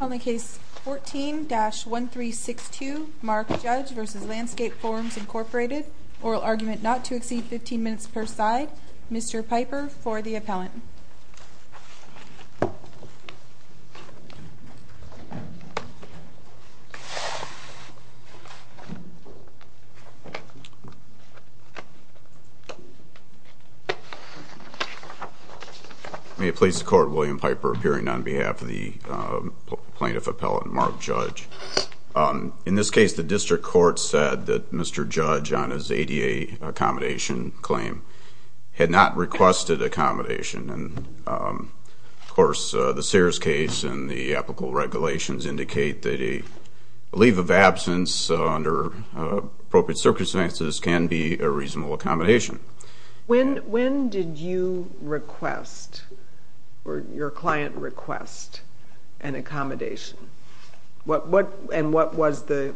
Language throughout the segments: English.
On the case 14-1362 Mark Judge v. Landscape Forms Incorporated Oral argument not to exceed 15 minutes per side Mr. Piper for the appellant May it please the court, William Piper appearing on behalf of the plaintiff appellant Mark Judge In this case the district court said that Mr. Judge on his ADA accommodation claim Had not requested accommodation And of course the Sears case and the applicable regulations indicate That a leave of absence under appropriate circumstances can be a reasonable accommodation When did you request or your client request an accommodation? And what was the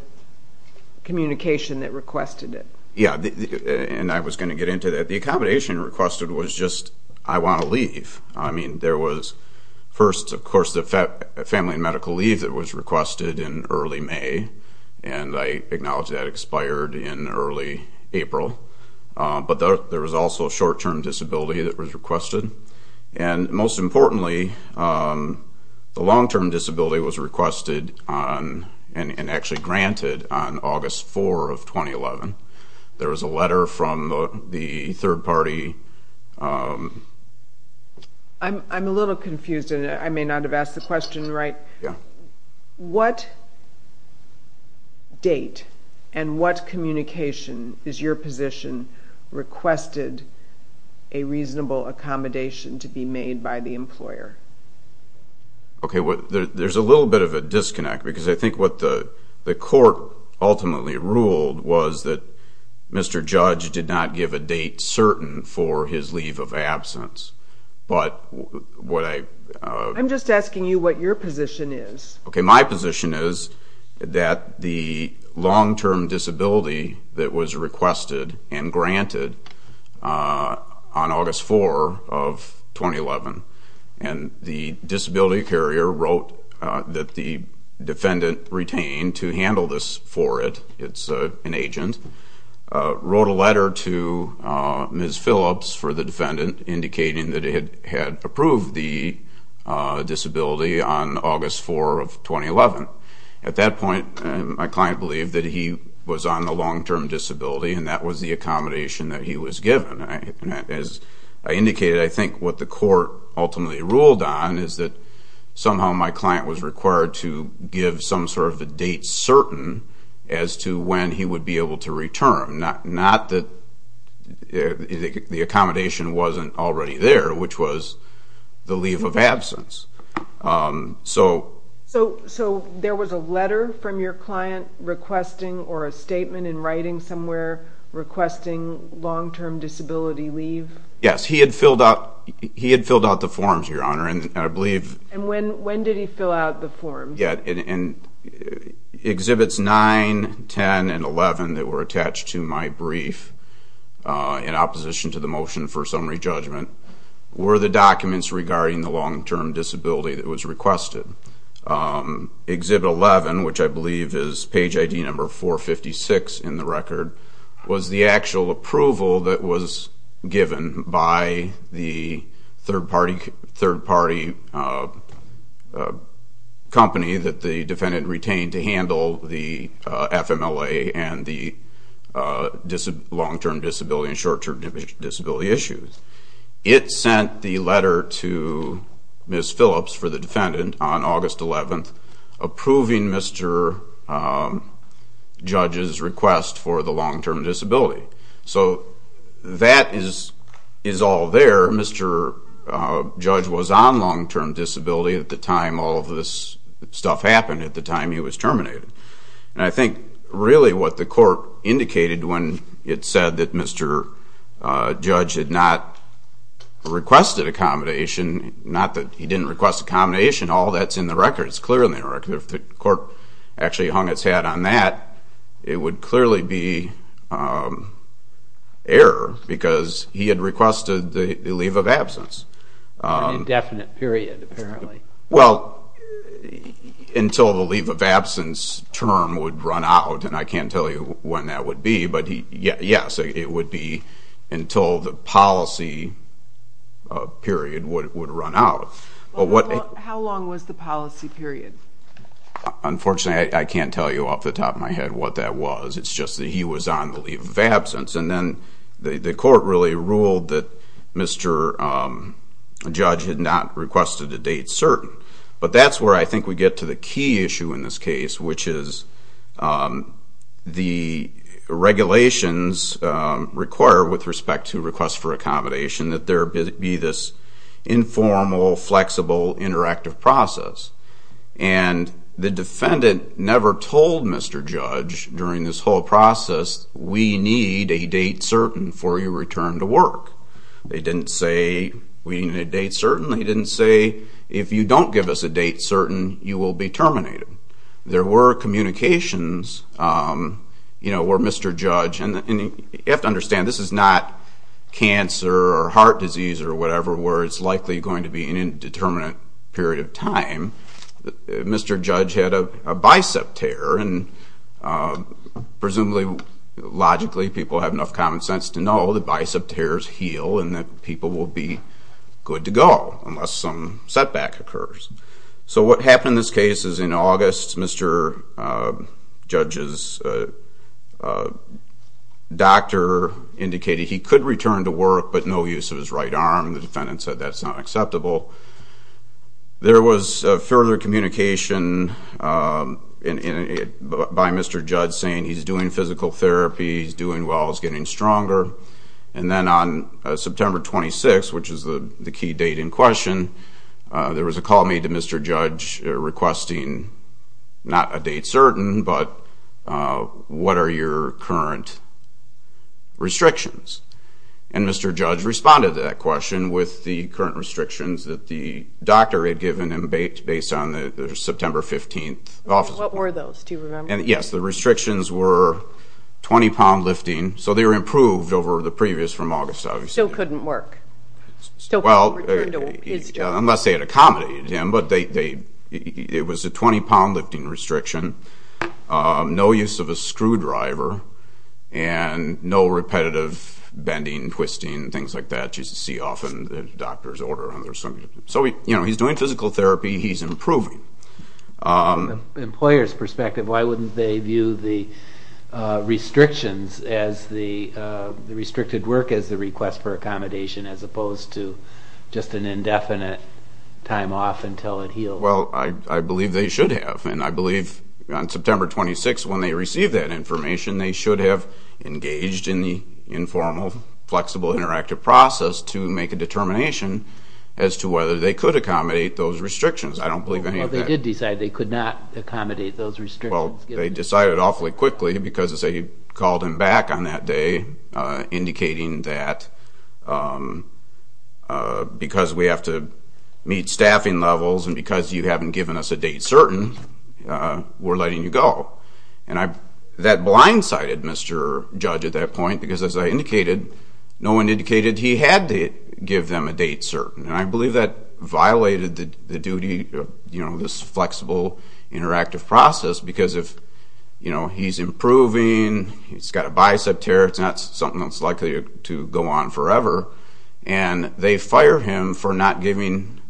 communication that requested it? Yeah, and I was going to get into that. The accommodation requested was just I want to leave. I mean there was first of course the family medical leave that was requested in early May And I acknowledge that expired in early April But there was also a short-term disability that was requested And most importantly the long-term disability was requested and actually granted on August 4 of 2011 There was a letter from the third party I'm a little confused and I may not have asked the question right What date and what communication is your position Requested a reasonable accommodation to be made by the employer? Okay, there's a little bit of a disconnect because I think what the court ultimately ruled Was that Mr. Judge did not give a date certain for his leave of absence I'm just asking you what your position is? Okay, my position is that the long-term disability that was requested and granted on August 4 of 2011 And the disability carrier wrote that the defendant retained to handle this for it It's an agent, wrote a letter to Ms. Phillips for the defendant Indicating that it had approved the disability on August 4 of 2011 At that point my client believed that he was on the long-term disability And that was the accommodation that he was given As I indicated I think what the court ultimately ruled on Is that somehow my client was required to give some sort of a date certain As to when he would be able to return Not that the accommodation wasn't already there Which was the leave of absence So there was a letter from your client requesting or a statement in writing somewhere Requesting long-term disability leave? Yes, he had filled out the forms, Your Honor And when did he fill out the forms? Exhibits 9, 10, and 11 that were attached to my brief In opposition to the motion for summary judgment Were the documents regarding the long-term disability that was requested Exhibit 11, which I believe is page ID number 456 in the record Was the actual approval that was given by the third-party company That the defendant retained to handle the FMLA And the long-term disability and short-term disability issues It sent the letter to Ms. Phillips for the defendant on August 11 Approving Mr. Judge's request for the long-term disability So that is all there Mr. Judge was on long-term disability at the time all of this stuff happened At the time he was terminated And I think really what the court indicated When it said that Mr. Judge had not requested accommodation Not that he didn't request accommodation All that's in the record, it's clear in the record If the court actually hung its head on that It would clearly be error Because he had requested the leave of absence An indefinite period apparently Well, until the leave of absence term would run out And I can't tell you when that would be But yes, it would be until the policy period would run out How long was the policy period? Unfortunately, I can't tell you off the top of my head what that was It's just that he was on the leave of absence And then the court really ruled that Mr. Judge had not requested a date certain But that's where I think we get to the key issue in this case Which is the regulations require with respect to request for accommodation That there be this informal, flexible, interactive process And the defendant never told Mr. Judge during this whole process We need a date certain for your return to work They didn't say we need a date certain They didn't say if you don't give us a date certain you will be terminated There were communications where Mr. Judge And you have to understand this is not cancer or heart disease or whatever Where it's likely going to be an indeterminate period of time Mr. Judge had a bicep tear And presumably, logically, people have enough common sense to know That bicep tears heal and that people will be good to go Unless some setback occurs So what happened in this case is in August Mr. Judge's doctor indicated he could return to work But no use of his right arm The defendant said that's not acceptable There was further communication by Mr. Judge Saying he's doing physical therapy, he's doing well, he's getting stronger There was a call made to Mr. Judge requesting not a date certain But what are your current restrictions? And Mr. Judge responded to that question with the current restrictions That the doctor had given him based on the September 15th What were those, do you remember? Yes, the restrictions were 20 pound lifting So they were improved over the previous from August Still couldn't work, still couldn't return to his job Unless they had accommodated him But it was a 20 pound lifting restriction No use of a screwdriver And no repetitive bending, twisting, things like that Which you see often in a doctor's order So he's doing physical therapy, he's improving From an employer's perspective, why wouldn't they view the restrictions As the restricted work, as the request for accommodation As opposed to just an indefinite time off until it heals? Well, I believe they should have And I believe on September 26th when they received that information They should have engaged in the informal, flexible, interactive process To make a determination as to whether they could accommodate those restrictions I don't believe any of that Well, they did decide they could not accommodate those restrictions Well, they decided awfully quickly Because as they called him back on that day Indicating that because we have to meet staffing levels And because you haven't given us a date certain We're letting you go And that blindsided Mr. Judge at that point Because as I indicated, no one indicated he had to give them a date certain And I believe that violated the duty of this flexible, interactive process Because if he's improving, he's got a bicep tear It's not something that's likely to go on forever And they fire him for not giving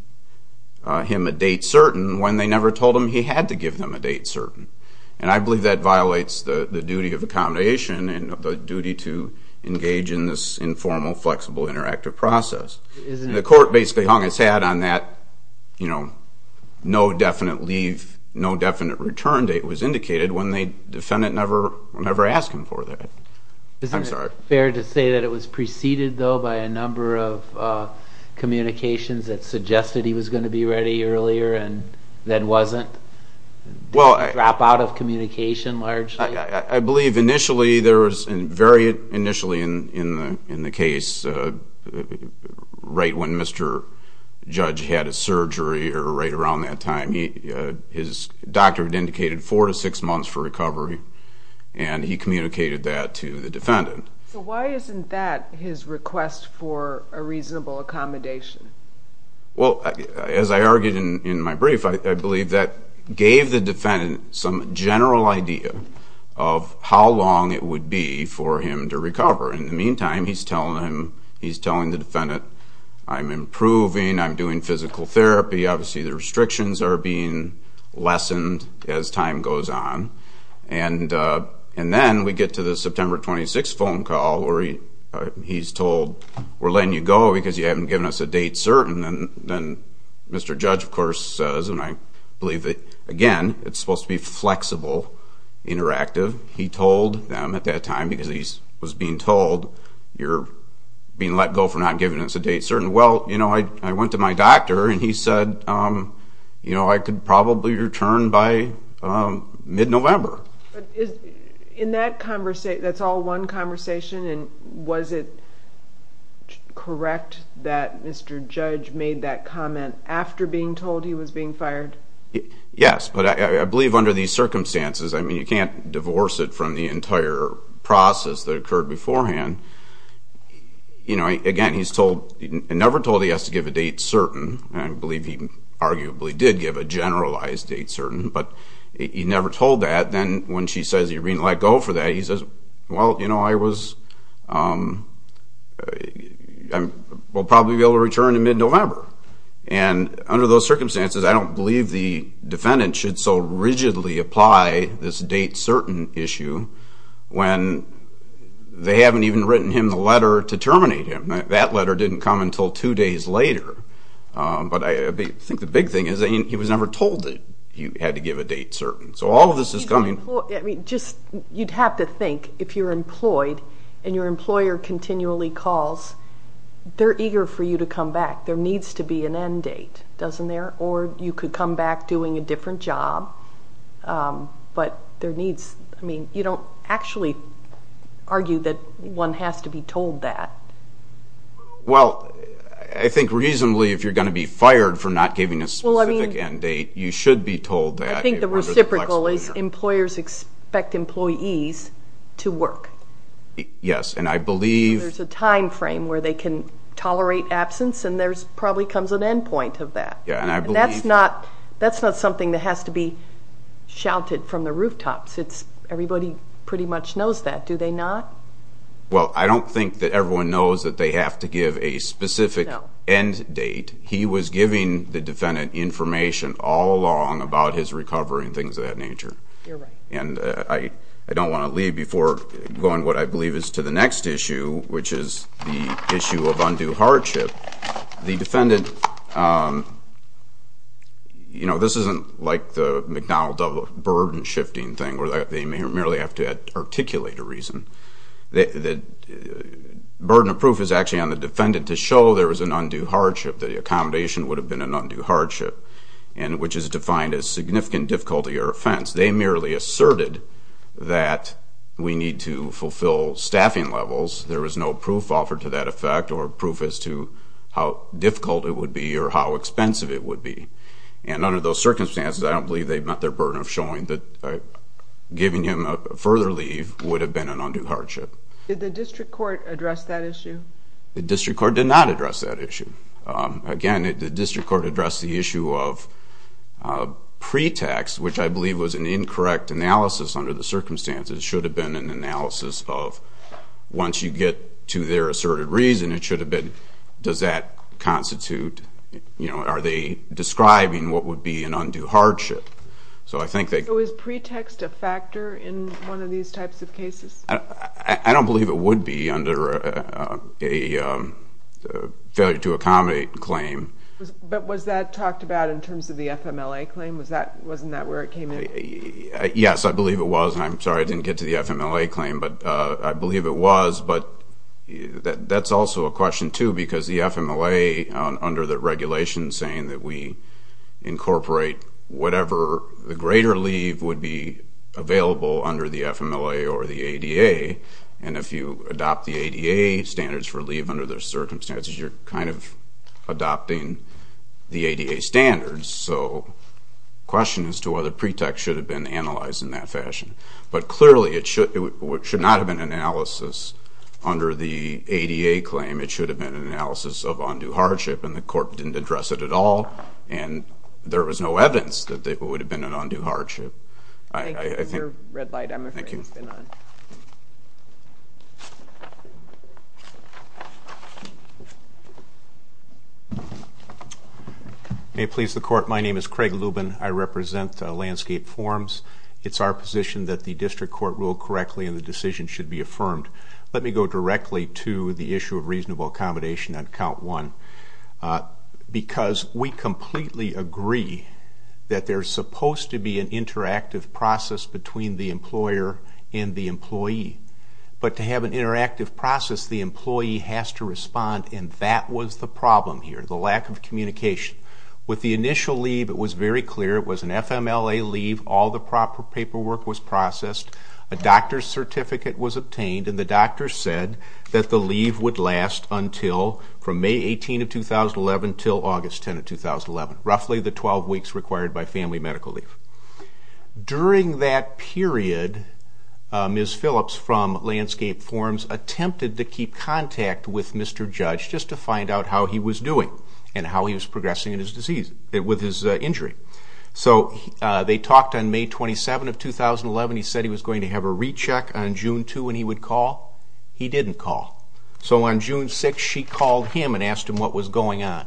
him a date certain When they never told him he had to give them a date certain And I believe that violates the duty of accommodation And the duty to engage in this informal, flexible, interactive process The court basically hung its hat on that No definite leave, no definite return date was indicated When the defendant never asked him for that Isn't it fair to say that it was preceded, though, by a number of communications That suggested he was going to be ready earlier and then wasn't? Drop out of communication, largely? I believe initially there was, very initially in the case Right when Mr. Judge had his surgery or right around that time His doctor had indicated 4 to 6 months for recovery And he communicated that to the defendant So why isn't that his request for a reasonable accommodation? Well, as I argued in my brief, I believe that gave the defendant Some general idea of how long it would be for him to recover In the meantime, he's telling the defendant I'm improving, I'm doing physical therapy Obviously the restrictions are being lessened as time goes on And then we get to the September 26th phone call Where he's told, we're letting you go because you haven't given us a date certain And then Mr. Judge, of course, says, and I believe that again It's supposed to be flexible, interactive He told them at that time, because he was being told You're being let go for not giving us a date certain Well, you know, I went to my doctor and he said You know, I could probably return by mid-November In that conversation, that's all one conversation And was it correct that Mr. Judge made that comment After being told he was being fired? Yes, but I believe under these circumstances I mean, you can't divorce it from the entire process that occurred beforehand You know, again, he's never told he has to give a date certain And I believe he arguably did give a generalized date certain But he never told that Then when she says you're being let go for that He says, well, you know, I was I will probably be able to return in mid-November And under those circumstances I don't believe the defendant should so rigidly apply this date certain issue When they haven't even written him the letter to terminate him That letter didn't come until two days later But I think the big thing is He was never told that he had to give a date certain So all of this is coming I mean, just, you'd have to think If you're employed and your employer continually calls They're eager for you to come back There needs to be an end date, doesn't there? Or you could come back doing a different job But there needs, I mean, you don't actually argue that one has to be told that Well, I think reasonably if you're going to be fired For not giving a specific end date You should be told that I think the reciprocal is employers expect employees to work Yes, and I believe There's a time frame where they can tolerate absence And there probably comes an end point of that And that's not something that has to be shouted from the rooftops Everybody pretty much knows that, do they not? Well, I don't think that everyone knows that they have to give a specific end date He was giving the defendant information all along about his recovery And things of that nature You're right And I don't want to leave before going to what I believe is to the next issue Which is the issue of undue hardship The defendant, you know, this isn't like the McDonnell-Dovell burden-shifting thing Where they merely have to articulate a reason The burden of proof is actually on the defendant To show there was an undue hardship That the accommodation would have been an undue hardship And which is defined as significant difficulty or offense They merely asserted that we need to fulfill staffing levels There was no proof offered to that effect Or proof as to how difficult it would be or how expensive it would be And under those circumstances I don't believe they met their burden of showing that Giving him a further leave would have been an undue hardship Did the district court address that issue? The district court did not address that issue Again, the district court addressed the issue of pretext Which I believe was an incorrect analysis under the circumstances It should have been an analysis of Once you get to their asserted reason It should have been, does that constitute You know, are they describing what would be an undue hardship So I think they So is pretext a factor in one of these types of cases? I don't believe it would be under a failure to accommodate claim But was that talked about in terms of the FMLA claim? Wasn't that where it came in? Yes, I believe it was And I'm sorry I didn't get to the FMLA claim But I believe it was But that's also a question too Because the FMLA under the regulation Saying that we incorporate whatever The greater leave would be available Under the FMLA or the ADA And if you adopt the ADA standards for leave Under those circumstances You're kind of adopting the ADA standards So question as to whether pretext should have been Analyzed in that fashion But clearly it should not have been an analysis Under the ADA claim It should have been an analysis of undue hardship And the court didn't address it at all And there was no evidence That it would have been an undue hardship Your red light, I'm afraid, has been on May it please the court My name is Craig Lubin I represent Landscape Forms It's our position that the district court Rule correctly and the decision should be affirmed Let me go directly to the issue of reasonable accommodation On count one Because we completely agree That there's supposed to be an interactive process Between the employer and the employee But to have an interactive process The employee has to respond And that was the problem here The lack of communication With the initial leave it was very clear It was an FMLA leave All the proper paperwork was processed A doctor's certificate was obtained And the doctor said that the leave would last Until from May 18 of 2011 Until August 10 of 2011 Roughly the 12 weeks required by family medical leave During that period Ms. Phillips from Landscape Forms Attempted to keep contact with Mr. Judge Just to find out how he was doing And how he was progressing with his injury So they talked on May 27 of 2011 He said he was going to have a recheck on June 2 And he would call He didn't call So on June 6 she called him And asked him what was going on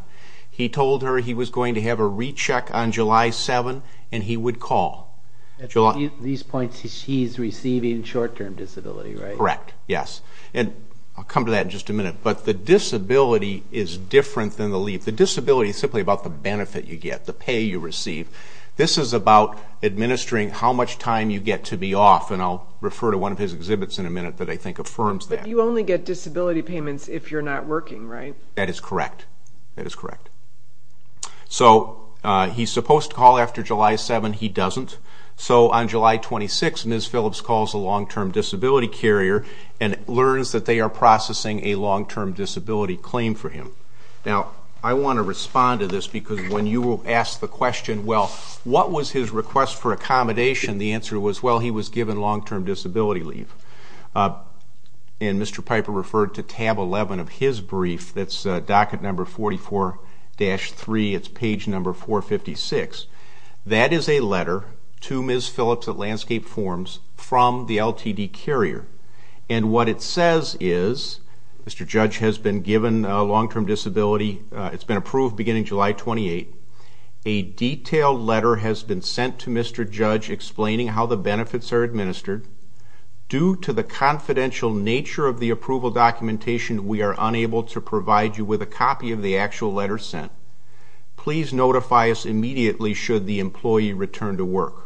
He told her he was going to have a recheck on July 7 And he would call At these points he's receiving short-term disability, right? Correct, yes And I'll come to that in just a minute But the disability is different than the leave The disability is simply about the benefit you get The pay you receive This is about administering how much time you get to be off And I'll refer to one of his exhibits in a minute That I think affirms that But you only get disability payments If you're not working, right? That is correct That is correct So he's supposed to call after July 7 He doesn't So on July 26 Ms. Phillips calls a long-term disability carrier And learns that they are processing A long-term disability claim for him Now, I want to respond to this Because when you asked the question Well, what was his request for accommodation The answer was Well, he was given long-term disability leave And Mr. Piper referred to tab 11 of his brief That's docket number 44-3 It's page number 456 That is a letter to Ms. Phillips at Landscape Forms From the LTD carrier And what it says is Mr. Judge has been given long-term disability It's been approved beginning July 28 A detailed letter has been sent to Mr. Judge Explaining how the benefits are administered Due to the confidential nature of the approval documentation We are unable to provide you With a copy of the actual letter sent Please notify us immediately Should the employee return to work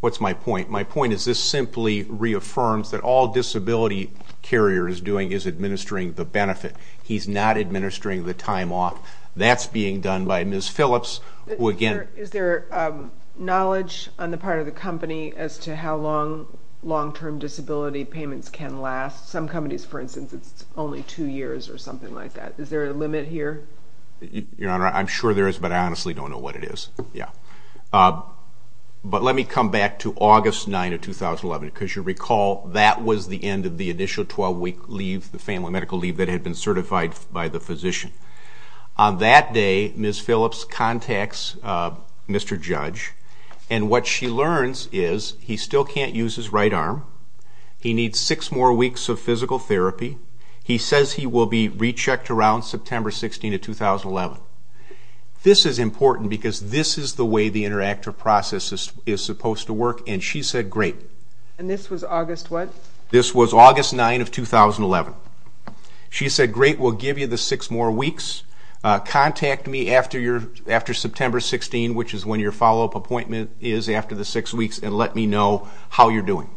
What's my point? My point is this simply reaffirms That all disability carriers doing Is administering the benefit He's not administering the time off That's being done by Ms. Phillips Is there knowledge on the part of the company As to how long long-term disability payments can last Some companies for instance It's only two years or something like that Is there a limit here? Your Honor, I'm sure there is But I honestly don't know what it is But let me come back to August 9 of 2011 Because you recall that was the end Of the initial 12-week leave The family medical leave That had been certified by the physician On that day, Ms. Phillips contacts Mr. Judge And what she learns is He still can't use his right arm He needs six more weeks of physical therapy He says he will be rechecked around September 16 of 2011 This is important because this is the way The interactive process is supposed to work And she said great And this was August what? This was August 9 of 2011 She said great, we'll give you the six more weeks Contact me after September 16 Which is when your follow-up appointment is After the six weeks And let me know how you're doing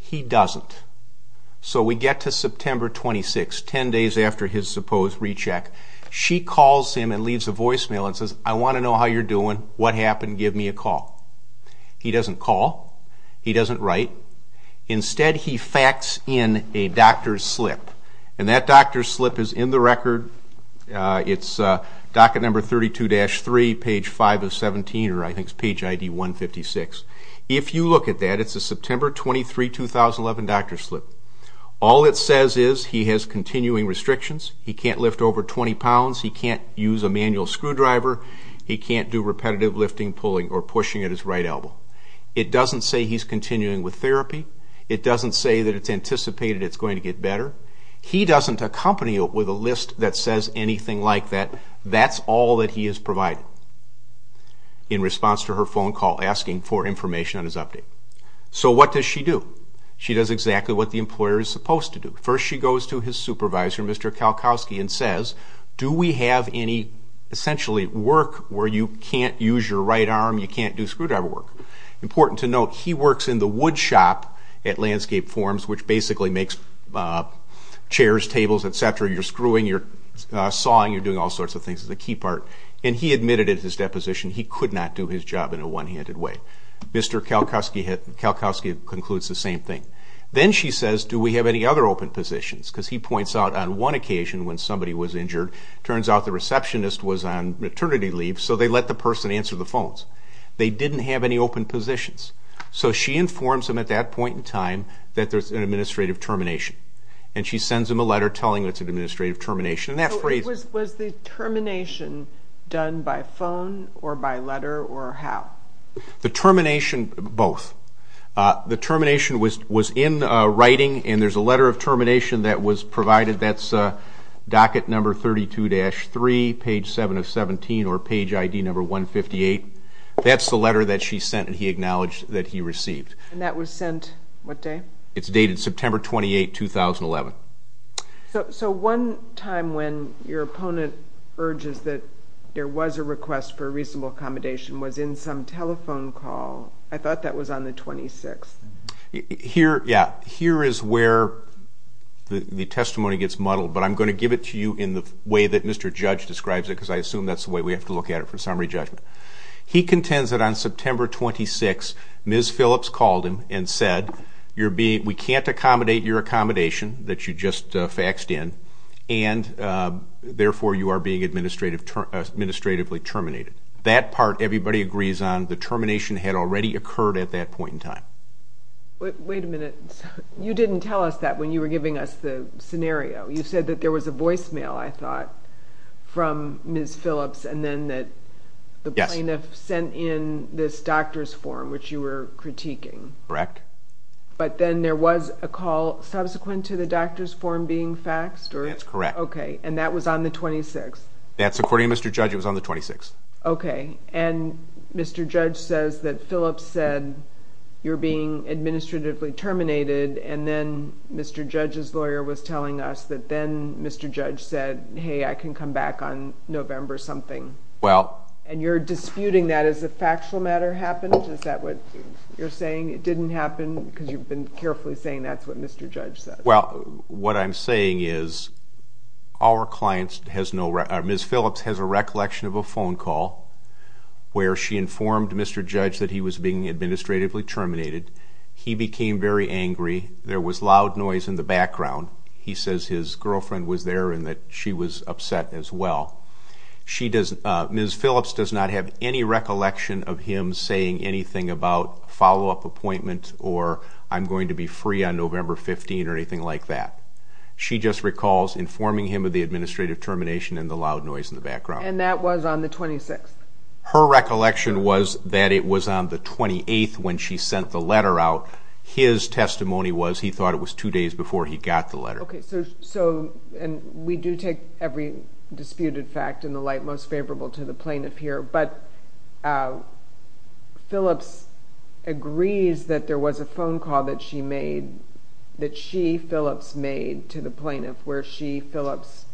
He doesn't So we get to September 26 Ten days after his supposed recheck She calls him and leaves a voicemail And says I want to know how you're doing What happened? Give me a call He doesn't call He doesn't write Instead he facts in a doctor's slip And that doctor's slip is in the record It's docket number 32-3 Page 5 of 17 Or I think it's page ID 156 If you look at that It's a September 23, 2011 doctor's slip All it says is He has continuing restrictions He can't lift over 20 pounds He can't use a manual screwdriver He can't do repetitive lifting, pulling Or pushing at his right elbow It doesn't say he's continuing with therapy It doesn't say that it's anticipated It's going to get better He doesn't accompany it with a list That says anything like that That's all that he has provided In response to her phone call Asking for information on his update So what does she do? She does exactly what the employer is supposed to do First she goes to his supervisor Mr. Kalkowski And says Do we have any Essentially work Where you can't use your right arm You can't do screwdriver work Important to note He works in the wood shop At Landscape Forms Which basically makes Chairs, tables, etc You're screwing You're sawing You're doing all sorts of things Is the key part And he admitted at his deposition He could not do his job In a one-handed way Mr. Kalkowski concludes the same thing Then she says Do we have any other open positions? Because he points out On one occasion When somebody was injured Turns out the receptionist Was on maternity leave So they let the person answer the phones They didn't have any open positions So she informs him At that point in time That there's an administrative termination And she sends him a letter Telling him it's an administrative termination And that phrase Was the termination done by phone Or by letter Or how? The termination Both The termination was in writing And there's a letter of termination That was provided That's docket number 32-3 Page 7 of 17 Or page ID number 158 That's the letter that she sent And he acknowledged that he received And that was sent What day? It's dated September 28, 2011 So one time When your opponent urges That there was a request For a reasonable accommodation Was in some telephone call I thought that was on the 26th Here, yeah Here is where The testimony gets muddled But I'm going to give it to you In the way that Mr. Judge describes it Because I assume that's the way We have to look at it For summary judgment He contends that on September 26 Ms. Phillips called him And said We can't accommodate your accommodation That you just faxed in And therefore You are being administratively terminated That part everybody agrees on The termination had already occurred At that point in time Wait a minute You didn't tell us that When you were giving us the scenario You said that there was a voicemail I thought From Ms. Phillips The plaintiff sent in this doctor's form Which you were critiquing Correct But then there was a call Subsequent to the doctor's form being faxed That's correct Okay, and that was on the 26th That's according to Mr. Judge It was on the 26th Okay And Mr. Judge says that Phillips said You're being administratively terminated And then Mr. Judge's lawyer was telling us That then Mr. Judge said Hey, I can come back on November something Well And you're disputing that As a factual matter happened Is that what you're saying? It didn't happen Because you've been carefully saying That's what Mr. Judge says Well, what I'm saying is Our client has no Ms. Phillips has a recollection of a phone call Where she informed Mr. Judge That he was being administratively terminated He became very angry There was loud noise in the background He says his girlfriend was there And that she was upset as well She doesn't Ms. Phillips does not have any recollection Of him saying anything about Follow-up appointment Or I'm going to be free on November 15th Or anything like that She just recalls informing him Of the administrative termination And the loud noise in the background And that was on the 26th Her recollection was That it was on the 28th When she sent the letter out His testimony was He thought it was two days Before he got the letter Okay, so And we do take every disputed fact in the light Most favorable to the plaintiff here But Phillips agrees That there was a phone call that she made That she, Phillips made To the plaintiff Where she, Phillips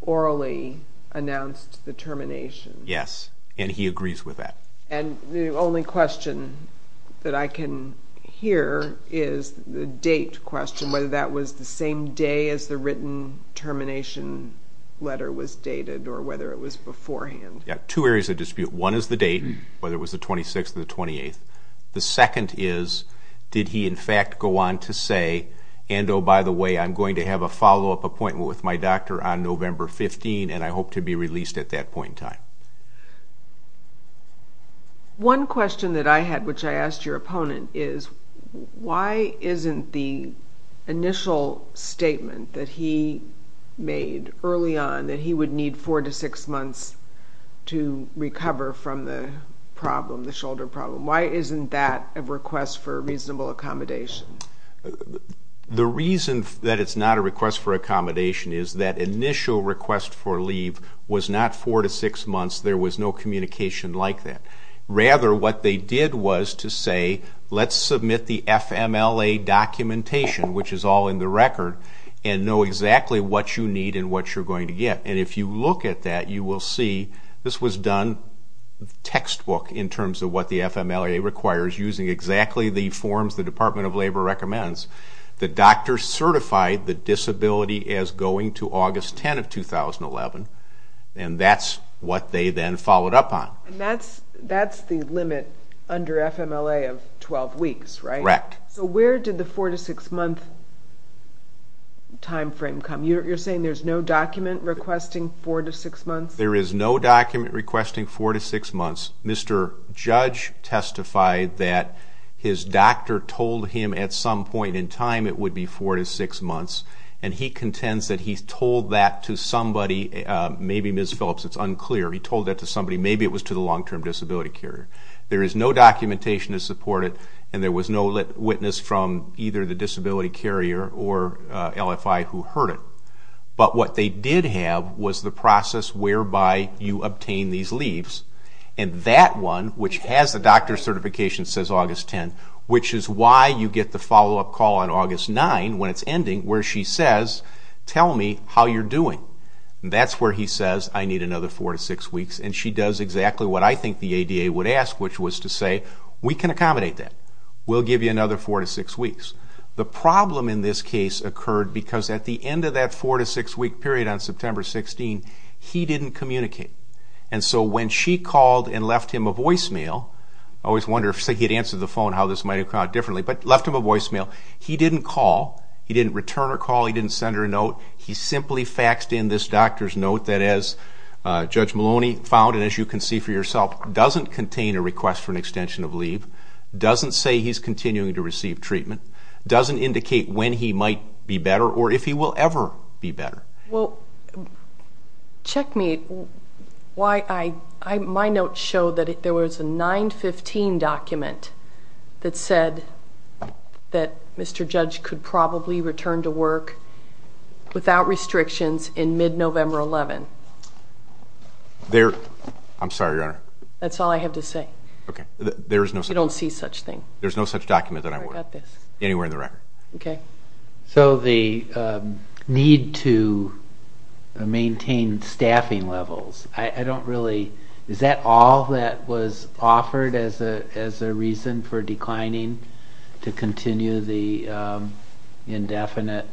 Orally announced the termination Yes, and he agrees with that And the only question That I can hear Is the date question Whether that was the same day As the written termination letter was dated Or whether it was beforehand Yeah, two areas of dispute One is the date Whether it was the 26th or the 28th The second is Did he in fact go on to say And oh, by the way I'm going to have a follow-up appointment With my doctor on November 15th And I hope to be released at that point in time One question that I had Which I asked your opponent Is why isn't the initial statement That he made early on That he would need four to six months To recover from the problem The shoulder problem Why isn't that a request For reasonable accommodation? The reason that it's not A request for accommodation Is that initial request for leave Was not four to six months There was no communication like that Rather, what they did was to say Let's submit the FMLA documentation Which is all in the record And know exactly what you need And what you're going to get And if you look at that You will see This was done textbook In terms of what the FMLA requires Using exactly the forms The Department of Labor recommends The doctor certified the disability As going to August 10th of 2011 And that's what they then followed up on And that's the limit Under FMLA of 12 weeks, right? Correct So where did the four to six month Time frame come? You're saying there's no document Requesting four to six months? There is no document Requesting four to six months Mr. Judge testified that His doctor told him at some point in time It would be four to six months And he contends that he told that to somebody Maybe Ms. Phillips, it's unclear He told that to somebody Maybe it was to the long-term disability carrier There is no documentation to support it And there was no witness From either the disability carrier Or LFI who heard it But what they did have Was the process whereby You obtain these leaves And that one, which has the doctor certification Says August 10th Which is why you get the follow-up call On August 9th when it's ending Where she says, tell me how you're doing And that's where he says I need another four to six weeks And she does exactly what I think the ADA would ask Which was to say, we can accommodate that We'll give you another four to six weeks The problem in this case occurred Because at the end of that four to six week period On September 16th, he didn't communicate And so when she called and left him a voicemail I always wonder, say he had answered the phone How this might have gone differently But left him a voicemail He didn't call, he didn't return her call He didn't send her a note He simply faxed in this doctor's note That as Judge Maloney found And as you can see for yourself Doesn't contain a request for an extension of leave Doesn't say he's continuing to receive treatment Doesn't indicate when he might be better Or if he will ever be better Well, check me My notes show that there was a 915 document That said that Mr. Judge could probably return to work Without restrictions in mid-November 11th I'm sorry, Your Honor That's all I have to say Okay, there is no such thing You don't see such thing There's no such document that I would Anywhere in the record Okay So the need to maintain staffing levels I don't really Is that all that was offered As a reason for declining To continue the indefinite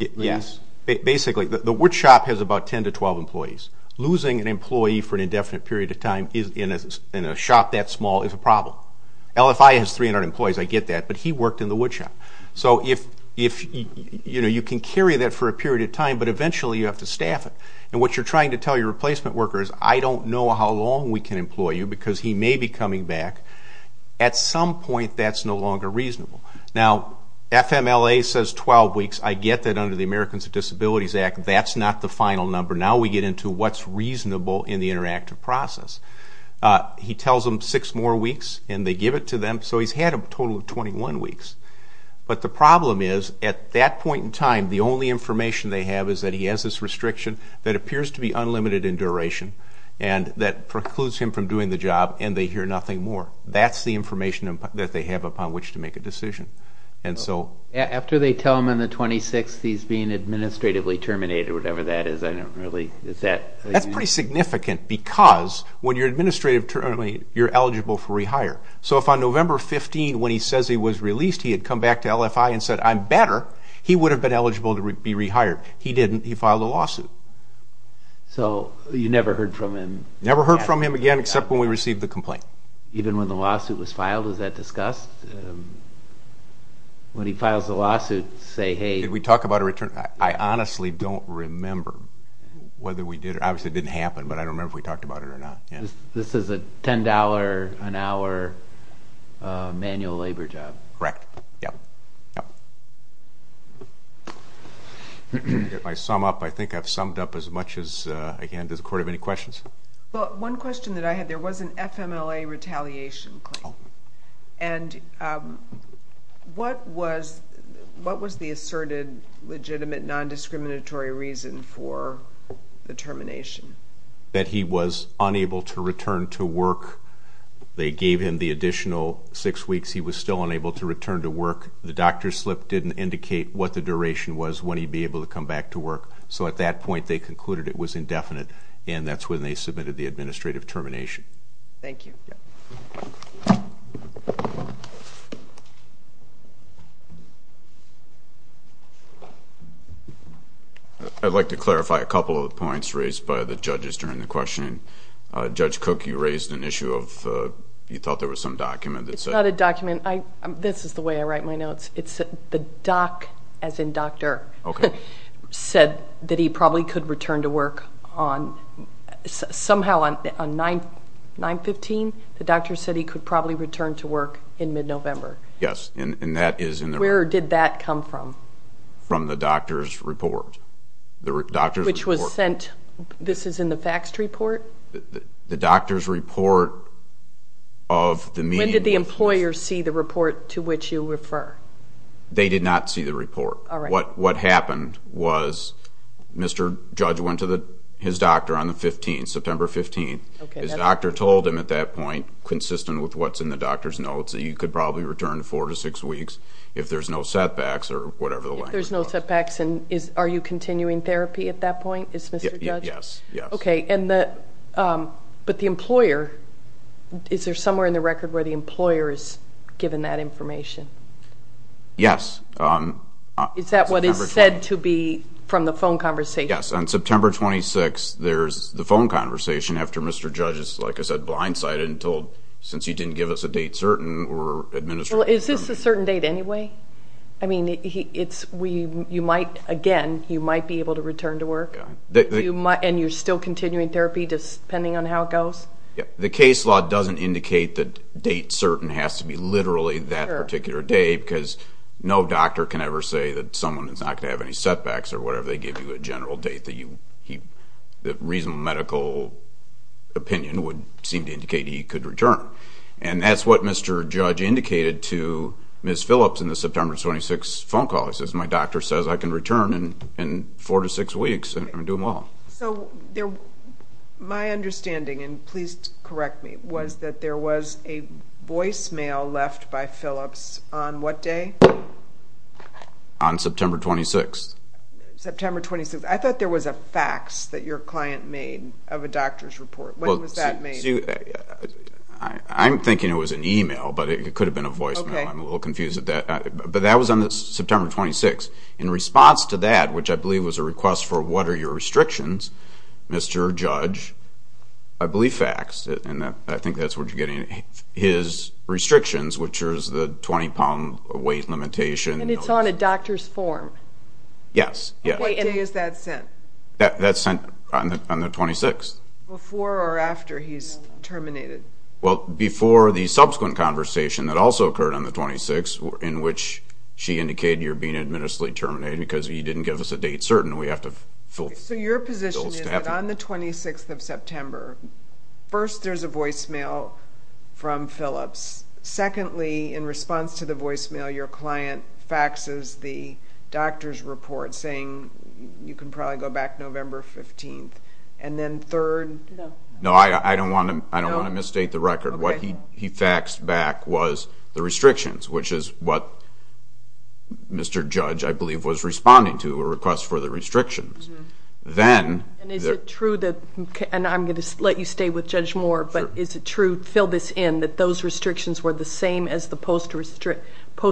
leave? Yes, basically The woodshop has about 10 to 12 employees Losing an employee for an indefinite period of time In a shop that small is a problem LFI has 300 employees, I get that But he worked in the woodshop So you can carry that for a period of time But eventually you have to staff it And what you're trying to tell your replacement worker Is I don't know how long we can employ you Because he may be coming back At some point that's no longer reasonable Now, FMLA says 12 weeks I get that under the Americans with Disabilities Act That's not the final number Now we get into what's reasonable In the interactive process He tells them 6 more weeks And they give it to them So he's had a total of 21 weeks But the problem is At that point in time The only information they have Is that he has this restriction That appears to be unlimited in duration And that precludes him from doing the job And they hear nothing more That's the information that they have Upon which to make a decision And so After they tell him in the 26th He's being administratively terminated Whatever that is, I don't really Is that That's pretty significant Because when you're administrative terminated You're eligible for rehire So if on November 15 When he says he was released He had come back to LFI And said, I'm better He would have been eligible to be rehired He didn't He filed a lawsuit So you never heard from him Never heard from him again Except when we received the complaint Even when the lawsuit was filed Is that discussed? When he files the lawsuit Say, hey Did we talk about a return? I honestly don't remember Whether we did It obviously didn't happen But I don't remember if we talked about it or not This is a $10 an hour Manual labor job Correct Yep Yep If I sum up I think I've summed up as much as I can Does the court have any questions? Well, one question that I had There was an FMLA retaliation claim And What was What was the asserted Legitimate non-discriminatory reason For the termination? That he was unable to return to work They gave him the additional six weeks He was still unable to return to work The doctor's slip didn't indicate What the duration was When he'd be able to come back to work So at that point They concluded it was indefinite And that's when they submitted The administrative termination Thank you I'd like to clarify A couple of the points Raised by the judges During the questioning Judge Cook, you raised an issue of You thought there was some document It's not a document I This is the way I write my notes It's The doc As in doctor Okay Said that he probably could return to work On Somehow on On 9 9-15 The doctor said he could probably return to work In mid-November Yes And that is in the Where did that come from? From the doctor's report The doctor's report Which was sent This is in the faxed report? The doctor's report Of the meeting When did the employer see the report To which you refer? They did not see the report All right What happened was Mr. Judge went to his doctor On the 15th September 15th Okay His doctor told him at that point Consistent with what's in the doctor's notes That he could probably return Four to six weeks If there's no setbacks Or whatever the language was If there's no setbacks And are you continuing therapy At that point Is Mr. Judge Yes Okay And the But the employer Is there somewhere in the record Where the employer is Given that information? Yes Is that what is said to be From the phone conversation? Yes On September 26th There's the phone conversation After Mr. Judge is Like I said Blindsided and told Since you didn't give us a date certain We're administering Is this a certain date anyway? I mean It's You might Again You might be able to return to work You might And you're still continuing therapy Just depending on how it goes? Yes The case law doesn't indicate That date certain Has to be literally That particular day Because No doctor can ever say That someone Is not going to have any setbacks Or whatever They give you a general date That you He That reasonable medical Opinion would Seem to indicate He could return And that's what Mr. Judge indicated To Ms. Phillips In the September 26th Phone call He says My doctor says I can return In Four to six weeks And do well So There My understanding And please Correct me Was that there was A voicemail Left by Phillips On what day? On September 26th September 26th I thought there was A fax That your client made Of a doctor's report When was that made? I'm thinking It was an email But it could have been A voicemail I'm a little confused At that But that was On the September 26th In response To that Which I believe Was a request For what are Your restrictions Mr. Judge I believe faxed And I think That's what you're getting His Restrictions Which are The 20 pound Weight limitation And it's on A doctor's form Yes What day Is that sent? That's sent On the 26th Before or after He's terminated Well Before the Subsequent conversation That also occurred On the 26th In which She indicated You're being Administratively terminated Because he didn't Give us a date certain We have to fill So your position Is that on the 26th of September First There's a voicemail From Phillips Secondly In response To the voicemail Your client Faxes the Doctor's report Saying You can probably Go back November 15th And then third No No I don't want to I don't want to Misstate the record What he faxed Back was The restrictions Which is what Mr. Judge I believe Was responding to A request for The restrictions Then And is it true That And I'm going to Let you stay with Judge Moore But is it true Fill this in That those restrictions Were the same as the Post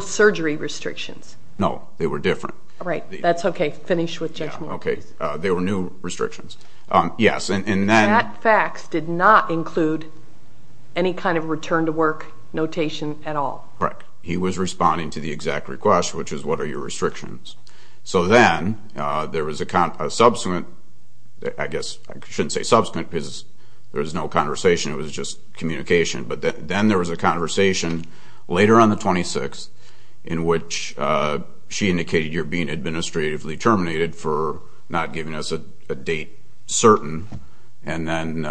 surgery restrictions No They were different Right That's okay Finish with Judge Moore Okay They were new Restrictions Yes And then That fax Did not include Any kind of Return to work Notation at all Right He was responding To the exact request Which is What are your Restrictions So then There was a Subsequent I guess I shouldn't say Subsequent Because there was No conversation It was just Communication But then There was a Conversation Later on the 26th In which She indicated You're being Administratively terminated For not giving us A date certain And then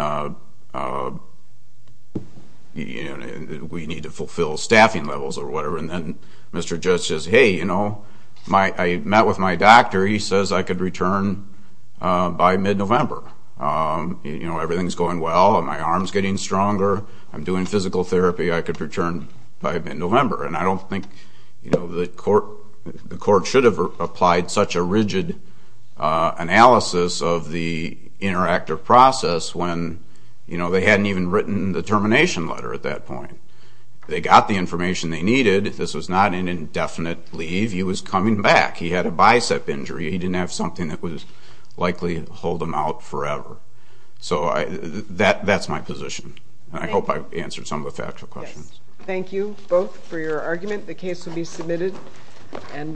We need to Fulfill Staffing levels Or whatever And then Mr. Judge says Hey You know I met with my doctor He says I could return By mid-November You know Everything's going well My arm's getting stronger I'm doing physical therapy By mid-November And I don't think You know The court The court should have Applied such a rigid Analysis Of the Interaction Between the Patients It would have been A much more Effective process When You know They hadn't even Written the termination Letter at that point They got the information They needed This was not An indefinite leave He was coming back He had a bicep injury He didn't have something That was likely To hold him out That's my position I hope I've answered Some of the factual questions Thank you both For your argument The case will be submitted And we'll be back Next time Thank you Thank you Thank you Thank you Thank you Thank you